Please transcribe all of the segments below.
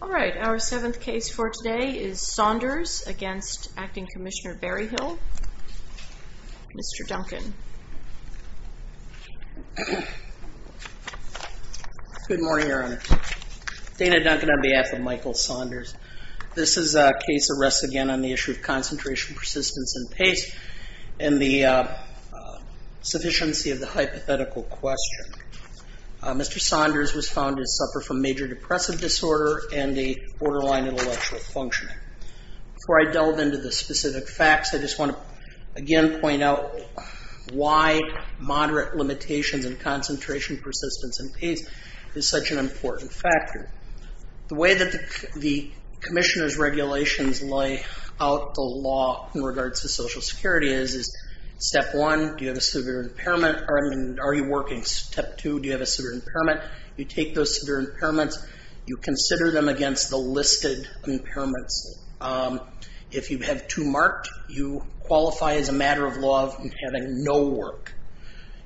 All right, our seventh case for today is Saunders against Acting Commissioner Berryhill. Mr. Duncan. Good morning, Your Honor. Dana Duncan on behalf of Michael Saunders. This is a case arrest again on the issue of concentration, persistence, and pace and the sufficiency of the hypothetical question. Mr. Saunders was found to suffer from major depressive disorder and a borderline intellectual functioning. Before I delve into the specific facts, I just want to again point out why moderate limitations and concentration, persistence, and pace is such an important factor. The way that the Commissioner's regulations lay out the law in regards to Social Security is step one, do you have a severe impairment? Are you working? Step two, do you have a severe impairment? You take those severe impairments, you consider them against the listed impairments. If you have two marked, you qualify as a matter of law of having no work.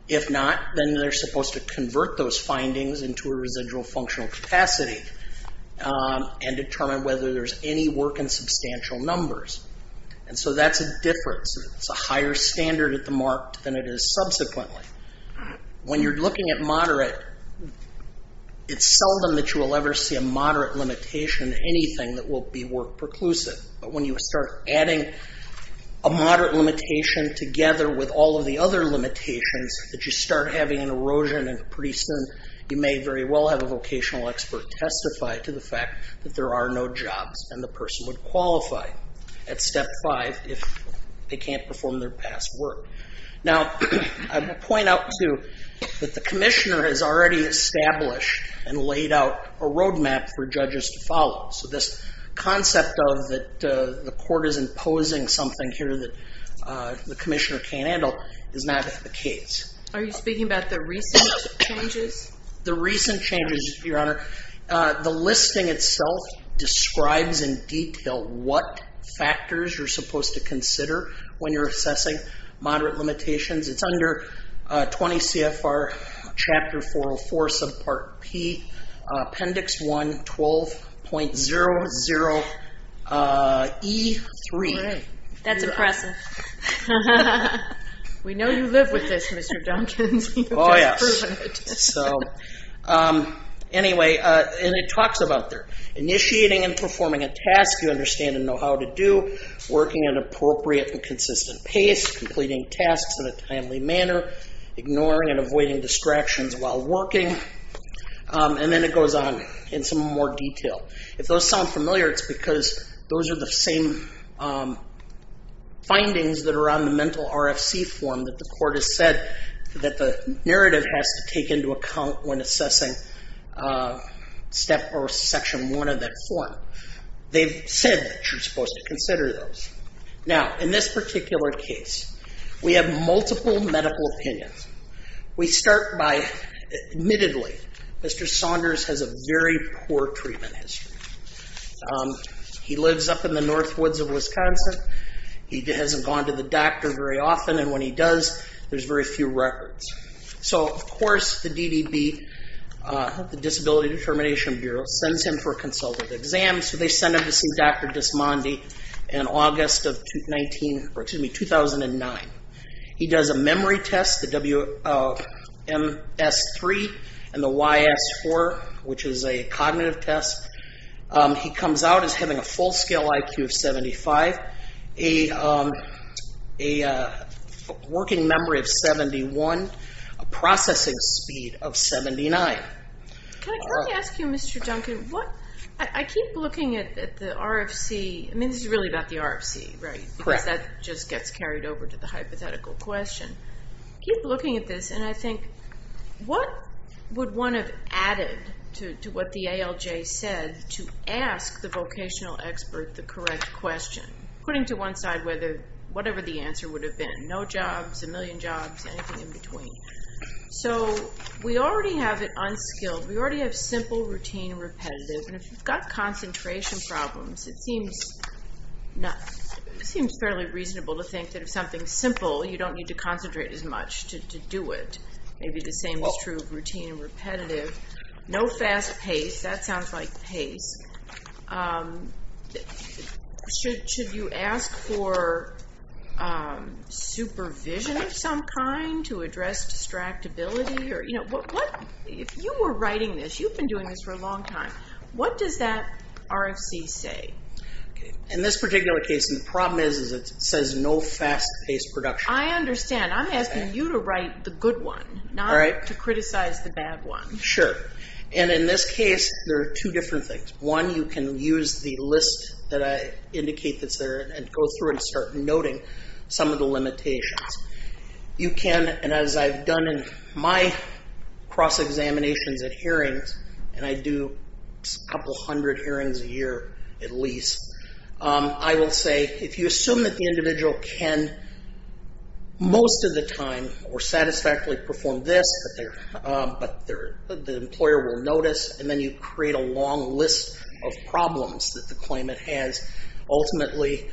If not, then they're supposed to convert those findings into a residual functional capacity and determine whether there's any work in substantial numbers. And so that's a difference. It's a higher standard at the mark than it is subsequently. When you're looking at moderate, it's seldom that you will ever see a moderate limitation in anything that will be work preclusive. But when you start adding a moderate limitation together with all of the other limitations, that you start having an erosion and pretty soon you may very well have a vocational expert testify to the fact that there are no jobs and the person would qualify at step five if they can't perform their past work. Now, I will point out too that the Commissioner has already established and laid out a roadmap for judges to follow. So this concept of that the court is imposing something here that the Commissioner can't handle is not the case. Are you speaking about the recent changes? The recent changes, Your Honor. The listing itself describes in detail what factors you're supposed to consider when you're assessing moderate limitations. It's under 20 CFR chapter 404 subpart P, appendix 112.00E3. That's impressive. We know you live with this, Mr. Duncans. Oh, yes. Anyway, it talks about initiating and performing a task you understand and know how to do, working at an appropriate and consistent pace, completing tasks in a timely manner, ignoring and avoiding distractions while working, and then it goes on in some more detail. If those sound familiar, it's because those are the same findings that are on the mental RFC form that the court has said that the narrative has to take into account when assessing section one of that form. They've said that you're supposed to consider those. Now, in this particular case, we have multiple medical opinions. We start by, admittedly, Mr. Saunders has a very poor treatment history. He lives up in the north woods of Wisconsin. He hasn't gone to the doctor very often, and when he does, there's very few records. So, of course, the DDB, the Disability Determination Bureau, sends him for a consultative exam, so they send him to see Dr. Desmondi in August of 2009. He does a memory test, the WMS3 and the YS4, which is a cognitive test. He comes out as having a full-scale IQ of 75, a working memory of 71, a processing speed of 79. Can I ask you, Mr. Duncan, I keep looking at the RFC. I mean, this is really about the RFC, right? Correct. Because that just gets carried over to the hypothetical question. I keep looking at this, and I think, what would one have added to what the ALJ said to ask the vocational expert the correct question? Putting to one side whatever the answer would have been, no jobs, a million jobs, anything in between. So, we already have it unskilled. We already have simple, routine, and repetitive. And if you've got concentration problems, it seems fairly reasonable to think that if something's simple, you don't need to concentrate as much to do it. Maybe the same is true of routine and repetitive. No fast pace. That sounds like pace. Should you ask for supervision of some kind to address distractibility? If you were writing this, you've been doing this for a long time, what does that RFC say? In this particular case, the problem is it says no fast-paced production. I understand. I'm asking you to write the good one, not to criticize the bad one. Sure. And in this case, there are two different things. One, you can use the list that I indicate that's there and go through and start noting some of the limitations. You can, and as I've done in my cross-examinations at hearings, and I do a couple hundred hearings a year at least, I will say, if you assume that the individual can, most of the time, or satisfactorily perform this, but the employer will notice, and then you create a long list of problems that the claimant has ultimately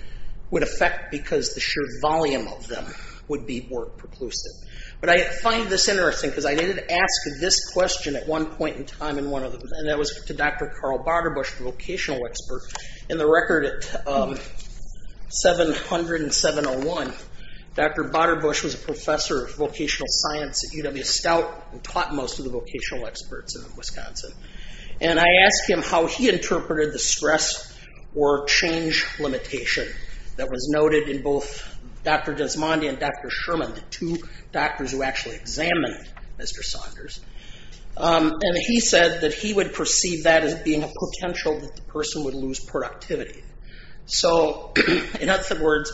would affect because the sheer volume of them would be more preclusive. But I find this interesting because I did ask this question at one point in time, and that was to Dr. Carl Baderbush, the vocational expert. In the record at 700 and 701, Dr. Baderbush was a professor of vocational science at UW-Stout and taught most of the vocational experts in Wisconsin. And I asked him how he interpreted the stress or change limitation that was noted in both Dr. Desmondi and Dr. Sherman, the two doctors who actually examined Mr. Saunders. And he said that he would perceive that as being a potential that the person would lose productivity. So, in other words,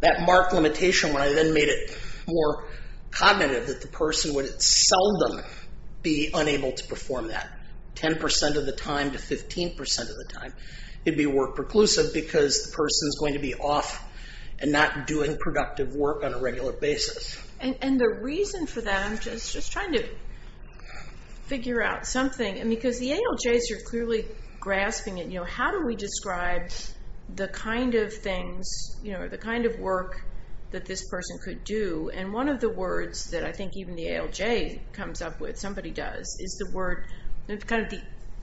that marked limitation when I then made it more cognitive that the person would seldom be unable to perform that. 10% of the time to 15% of the time, it'd be more preclusive because the person's going to be off and not doing productive work on a regular basis. And the reason for that, I'm just trying to figure out something. Because the ALJs are clearly grasping it. How do we describe the kind of things, the kind of work that this person could do? And one of the words that I think even the ALJ comes up with, somebody does, is the word, kind of the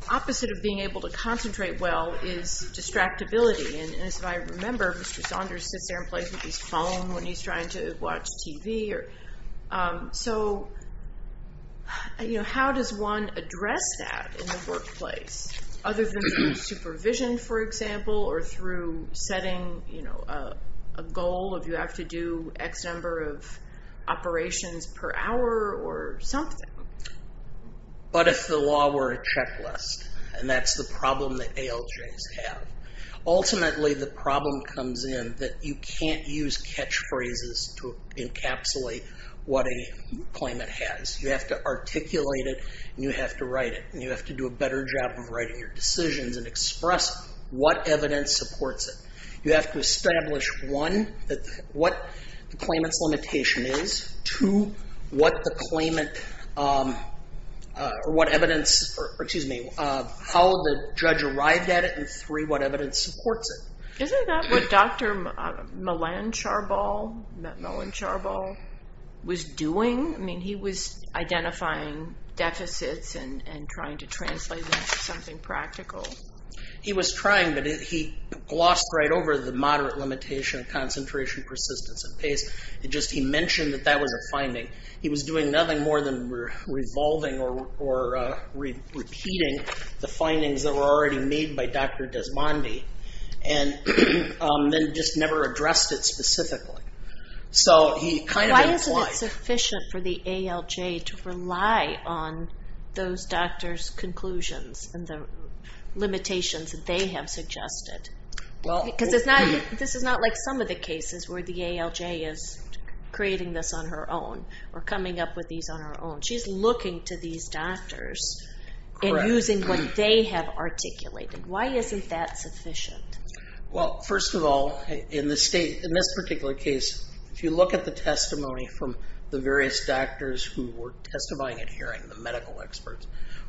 opposite of being able to concentrate well, is distractibility. And as I remember, Mr. Saunders sits there and plays with his phone when he's trying to watch TV. So, how does one address that in the workplace? Other than through supervision, for example, or through setting a goal of you have to do X number of operations per hour or something. But if the law were a checklist, and that's the problem that ALJs have. Ultimately, the problem comes in that you can't use catchphrases to encapsulate what a claimant has. You have to articulate it, and you have to write it. And you have to do a better job of writing your decisions and express what evidence supports it. You have to establish, one, what the claimant's limitation is. Two, what the claimant, or what evidence, or excuse me, how the judge arrived at it. And three, what evidence supports it. Isn't that what Dr. Melan Charbal was doing? I mean, he was identifying deficits and trying to translate them into something practical. He was trying, but he glossed right over the moderate limitation of concentration, persistence, and pace. He mentioned that that was a finding. He was doing nothing more than revolving or repeating the findings that were already made by Dr. Desmondi, and then just never addressed it specifically. So he kind of implied... Why isn't it sufficient for the ALJ to rely on those doctors' conclusions and the limitations that they have suggested? Because this is not like some of the cases where the ALJ is creating this on her own or coming up with these on her own. She's looking to these doctors and using what they have articulated. Why isn't that sufficient? Well, first of all, in this particular case, if you look at the testimony from the various doctors who were testifying at hearing, the medical experts,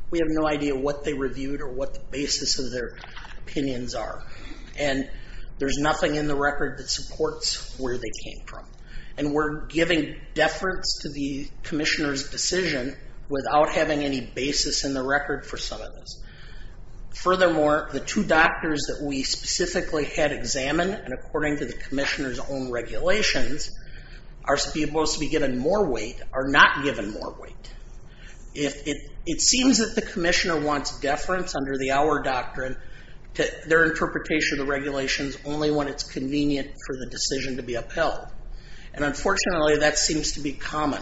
we have no idea what they reviewed or what the basis of their opinions are. And there's nothing in the record that supports where they came from. And we're giving deference to the commissioner's decision without having any basis in the record for some of this. Furthermore, the two doctors that we specifically had examined and according to the commissioner's own regulations are supposed to be given more weight are not given more weight. It seems that the commissioner wants deference under the OUR doctrine to their interpretation of the regulations only when it's convenient for the decision to be upheld. And unfortunately, that seems to be common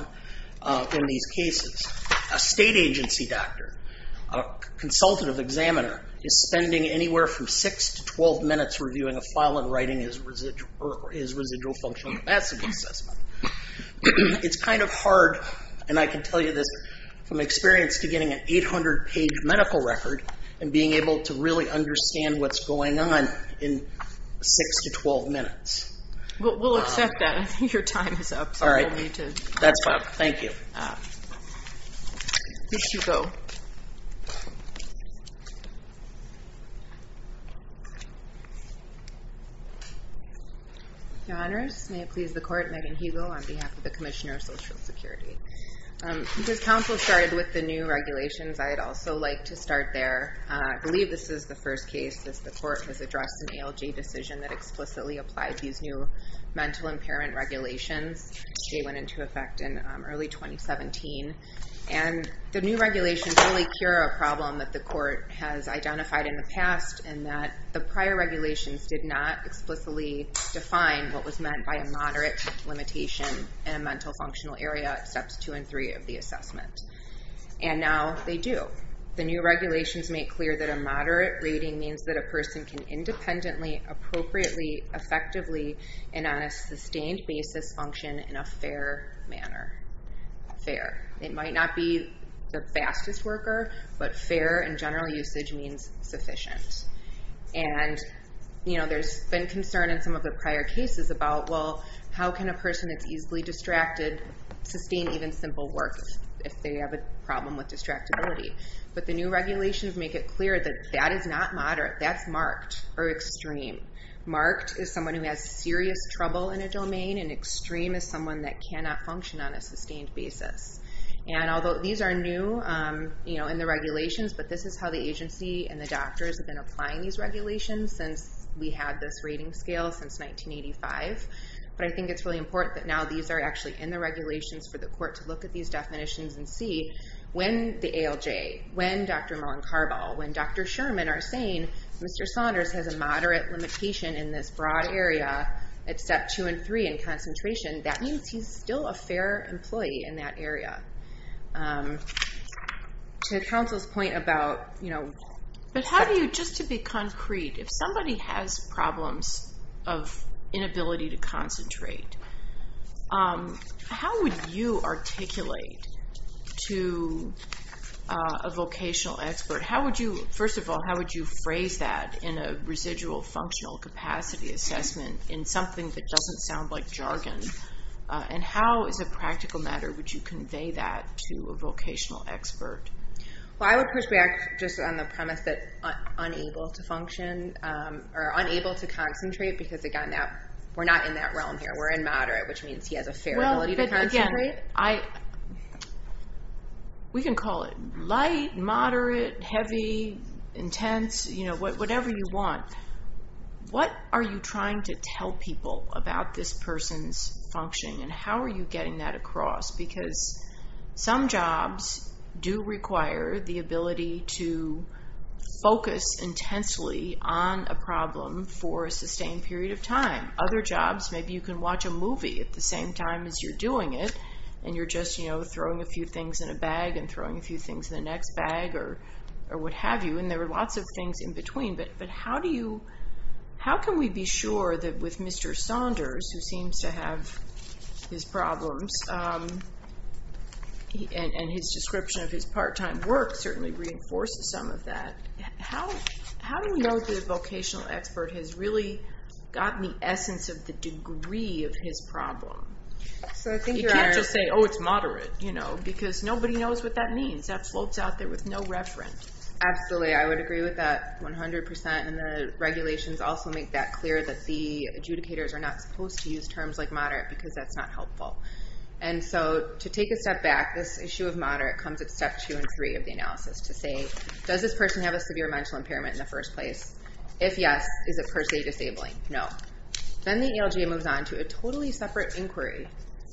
in these cases. A state agency doctor, a consultative examiner, is spending anywhere from 6 to 12 minutes reviewing a file and writing his residual functional capacity assessment. It's kind of hard, and I can tell you this, from experience to getting an 800-page medical record and being able to really understand what's going on in 6 to 12 minutes. We'll accept that. Your time is up. All right. That's fine. Thank you. You should go. Your Honors, may it please the Court, Megan Hegal on behalf of the Commissioner of Social Security. Because counsel started with the new regulations, I'd also like to start there. I believe this is the first case since the Court has addressed an ALJ decision that explicitly applied these new mental impairment regulations. They went into effect in early 2017. And the new regulations really cure a problem that the Court has identified in the past, in that the prior regulations did not explicitly define what was meant by a moderate limitation in a mental functional area at steps 2 and 3 of the assessment. And now they do. The new regulations make clear that a moderate rating means that a person can independently, appropriately, effectively, and on a sustained basis function in a fair manner. Fair. It might not be the fastest worker, but fair in general usage means sufficient. And, you know, there's been concern in some of the prior cases about, well, how can a person that's easily distracted sustain even simple work if they have a problem with distractibility? But the new regulations make it clear that that is not moderate. That's marked or extreme. Marked is someone who has serious trouble in a domain, and extreme is someone that cannot function on a sustained basis. And although these are new in the regulations, but this is how the agency and the doctors have been applying these regulations since we had this rating scale since 1985. But I think it's really important that now these are actually in the regulations for the Court to look at these definitions and see when the ALJ, when Dr. Mullen-Carball, when Dr. Sherman are saying Mr. Saunders has a moderate limitation in this broad area at step two and three in concentration, that means he's still a fair employee in that area. To counsel's point about, you know... But how do you, just to be concrete, if somebody has problems of inability to concentrate, how would you articulate to a vocational expert? How would you, first of all, how would you phrase that in a residual functional capacity assessment in something that doesn't sound like jargon? And how, as a practical matter, would you convey that to a vocational expert? Well, I would push back just on the premise that unable to function or unable to concentrate because, again, we're not in that realm here. We're in moderate, which means he has a fair ability to concentrate. We can call it light, moderate, heavy, intense, you know, whatever you want. What are you trying to tell people about this person's functioning? And how are you getting that across? Because some jobs do require the ability to focus intensely on a problem for a sustained period of time. Other jobs, maybe you can watch a movie at the same time as you're doing it. And you're just, you know, throwing a few things in a bag and throwing a few things in the next bag or what have you. And there are lots of things in between. But how can we be sure that with Mr. Saunders, who seems to have his problems and his description of his part-time work certainly reinforces some of that, how do you know the vocational expert has really gotten the essence of the degree of his problem? You can't just say, oh, it's moderate. Because nobody knows what that means. That floats out there with no reference. Absolutely, I would agree with that 100%. And the regulations also make that clear that the adjudicators are not supposed to use terms like moderate because that's not helpful. And so to take a step back, this issue of moderate comes at Step 2 and 3 of the analysis to say, does this person have a severe mental impairment in the first place? If yes, is it per se disabling? No. Then the ALJ moves on to a totally separate inquiry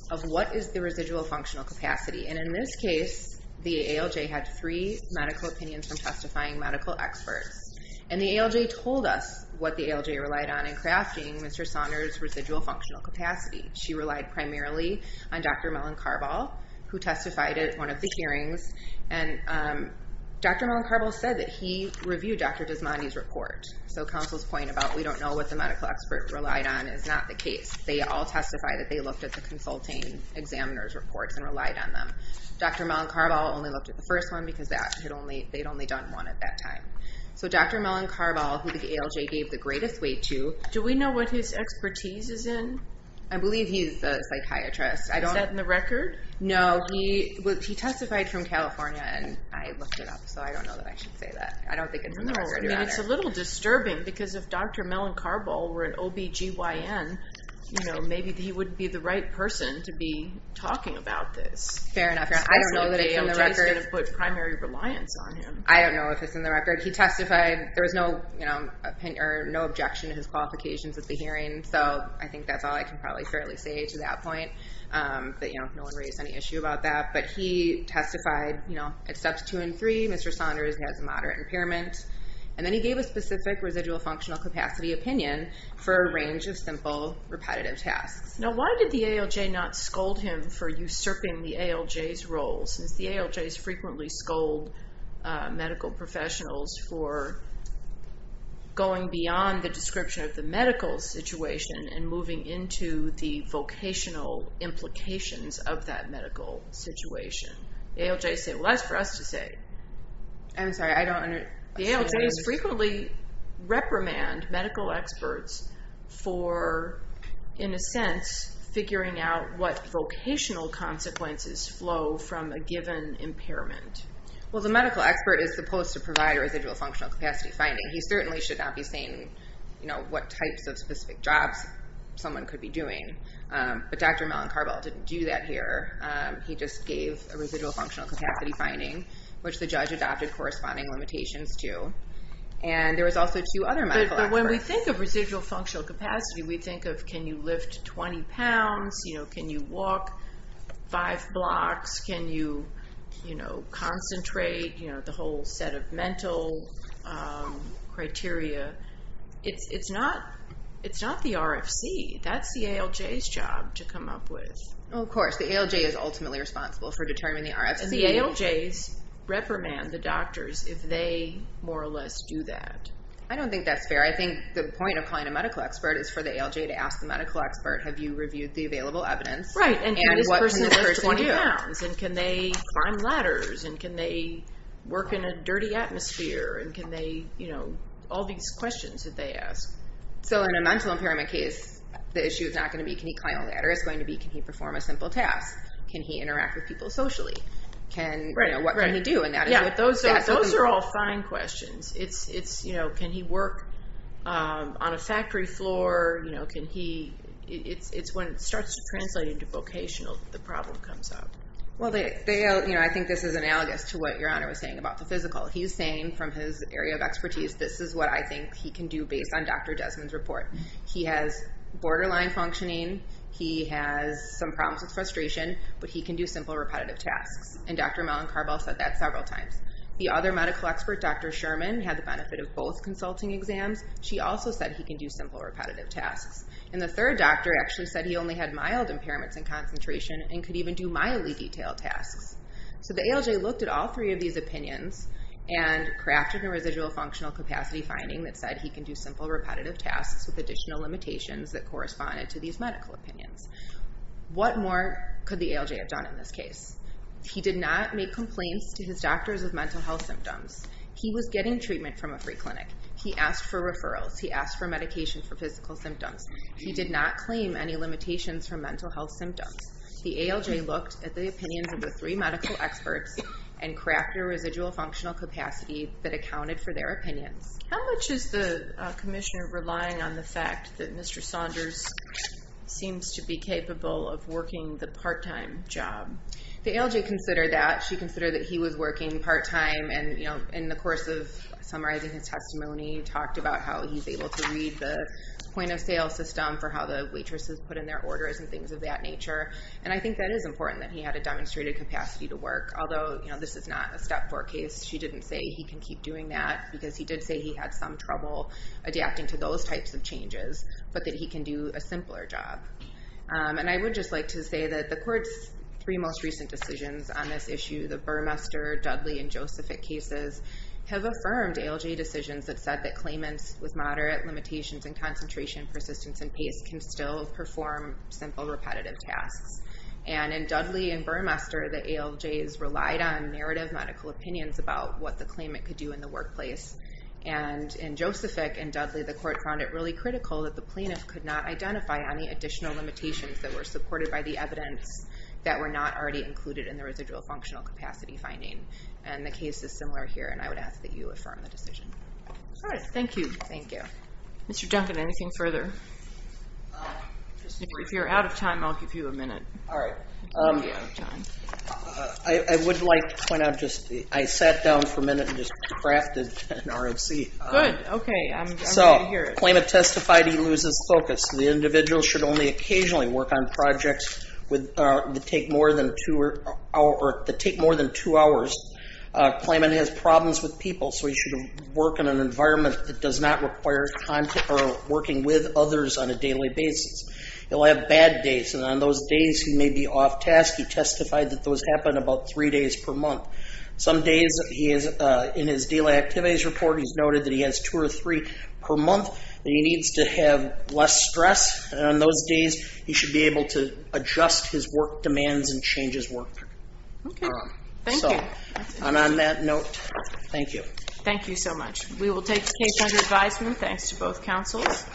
of what is the residual functional capacity. And in this case, the ALJ had three medical opinions from testifying medical experts. And the ALJ told us what the ALJ relied on in crafting Mr. Saunders' residual functional capacity. She relied primarily on Dr. Mellon-Carball, who testified at one of the hearings. And Dr. Mellon-Carball said that he reviewed Dr. Desmondi's report. So counsel's point about, we don't know what the medical expert relied on is not the case. They all testified that they looked at the consulting examiner's reports and relied on them. Dr. Mellon-Carball only looked at the first one because they'd only done one at that time. So Dr. Mellon-Carball, who the ALJ gave the greatest weight to... Do we know what his expertise is in? I believe he's a psychiatrist. Is that in the record? No, he testified from California and I looked it up, so I don't know that I should say that. It's a little disturbing because if Dr. Mellon-Carball were an OBGYN, maybe he wouldn't be the right person to be talking about this. Fair enough. I don't know if it's in the record. He testified, there was no objection to his qualifications at the hearing, so I think that's all I can probably say to that point. No one raised any issue about that. But he testified at steps 2 and 3 Mr. Saunders has moderate impairment and then he gave a specific residual functional capacity opinion for a range of simple repetitive tasks. Now why did the ALJ not scold him for usurping the ALJ's role since the ALJs frequently scold medical professionals for going beyond the description of the medical situation and moving into the vocational implications of that medical situation. The ALJs say, well that's for us to say. I'm sorry, I don't understand. The ALJs frequently reprimand medical experts for in a sense, figuring out what vocational consequences flow from a given impairment. Well the medical expert is supposed to provide a residual functional capacity finding. He certainly should not be saying what types of specific jobs someone could be doing. But Dr. Mellon-Carball didn't do that here. He just gave a residual functional capacity finding, which the judge adopted corresponding limitations to. And there was also two other medical experts. But when we think of residual functional capacity, we think of can you lift 20 pounds, can you walk 5 blocks, can you concentrate, the whole set of mental criteria. It's not the RFC. That's the ALJ's job to come up with. The ALJ is ultimately responsible for determining the RFC. And the ALJs reprimand the doctors if they more or less do that. I don't think that's fair. I think the point of calling a medical expert is for the ALJ to ask the medical expert have you reviewed the available evidence? And can this person lift 20 pounds? And can they climb ladders? And can they work in a dirty atmosphere? All these questions that they ask. So in a mental impairment case, the issue is not going to be can he climb a ladder? It's going to be can he perform a simple task? Can he interact with people socially? What can he do? Those are all fine questions. Can he work on a factory floor? It's when it starts to translate into vocational that the problem comes up. I think this is analogous to what Your Honor was saying about the physical. He's saying from his area of expertise, this is what I think he can do based on Dr. Desmond's report. He has borderline functioning. He has some problems with frustration. But he can do simple repetitive tasks. And Dr. Mellon-Carball said that several times. The other medical expert, Dr. Sherman, had the benefit of both consulting exams. She also said he can do simple repetitive tasks. And the third doctor actually said he only had mild impairments in concentration and could even do mildly detailed tasks. So the ALJ looked at all three of these opinions and crafted a residual functional capacity finding that said he can do simple repetitive tasks with additional limitations that corresponded to these medical opinions. What more could the ALJ have done in this case? He did not make complaints to his doctors of mental health symptoms. He was getting treatment from a free clinic. He asked for referrals. He asked for medication for physical symptoms. He did not claim any limitations for mental health symptoms. The ALJ looked at the opinions of the three medical experts and crafted a residual functional capacity that accounted for their opinions. How much is the commissioner relying on the fact that Mr. Saunders seems to be capable of working the part-time job? The ALJ considered that. She considered that he was working part-time and in the course of summarizing his testimony talked about how he's able to read the point-of-sale system for how the waitresses put in their orders and things of that nature. And I think that is important that he had a demonstrated capacity to work. Although this is not a step-four case, she didn't say he can keep doing that because he did say he had some trouble adapting to those types of changes, but that he can do a simpler job. And I would just like to say that the court's three most recent decisions on this issue, the Burmester, Dudley and Josephic cases, have affirmed ALJ decisions that said that claimants with moderate limitations in concentration, persistence and pace can still perform simple, repetitive tasks. And in Dudley and Josephic, the court found it really critical that the plaintiff could not identify any additional limitations that were supported by the evidence that were not already included in the residual functional capacity finding. And the case is similar here and I would ask that you affirm the decision. Alright, thank you. Mr. Duncan, anything further? If you're out of time, I'll give you a minute. Alright. I would like to say that the I sat down for a minute and just crafted an RFC. Good, okay, I'm ready to hear it. So, claimant testified he loses focus. The individual should only occasionally work on projects that take more than two hours. Claimant has problems with people, so he should work in an environment that does not require working with others on a daily basis. He'll have bad days, and on those days he may be off task. He testified that those happen about three days per month. Some days he is in his daily activities report he's noted that he has two or three per month that he needs to have less stress and on those days he should be able to adjust his work demands and change his work. Okay, thank you. And on that note, thank you. Thank you so much. We will take the case under advisement, thanks to both counsels.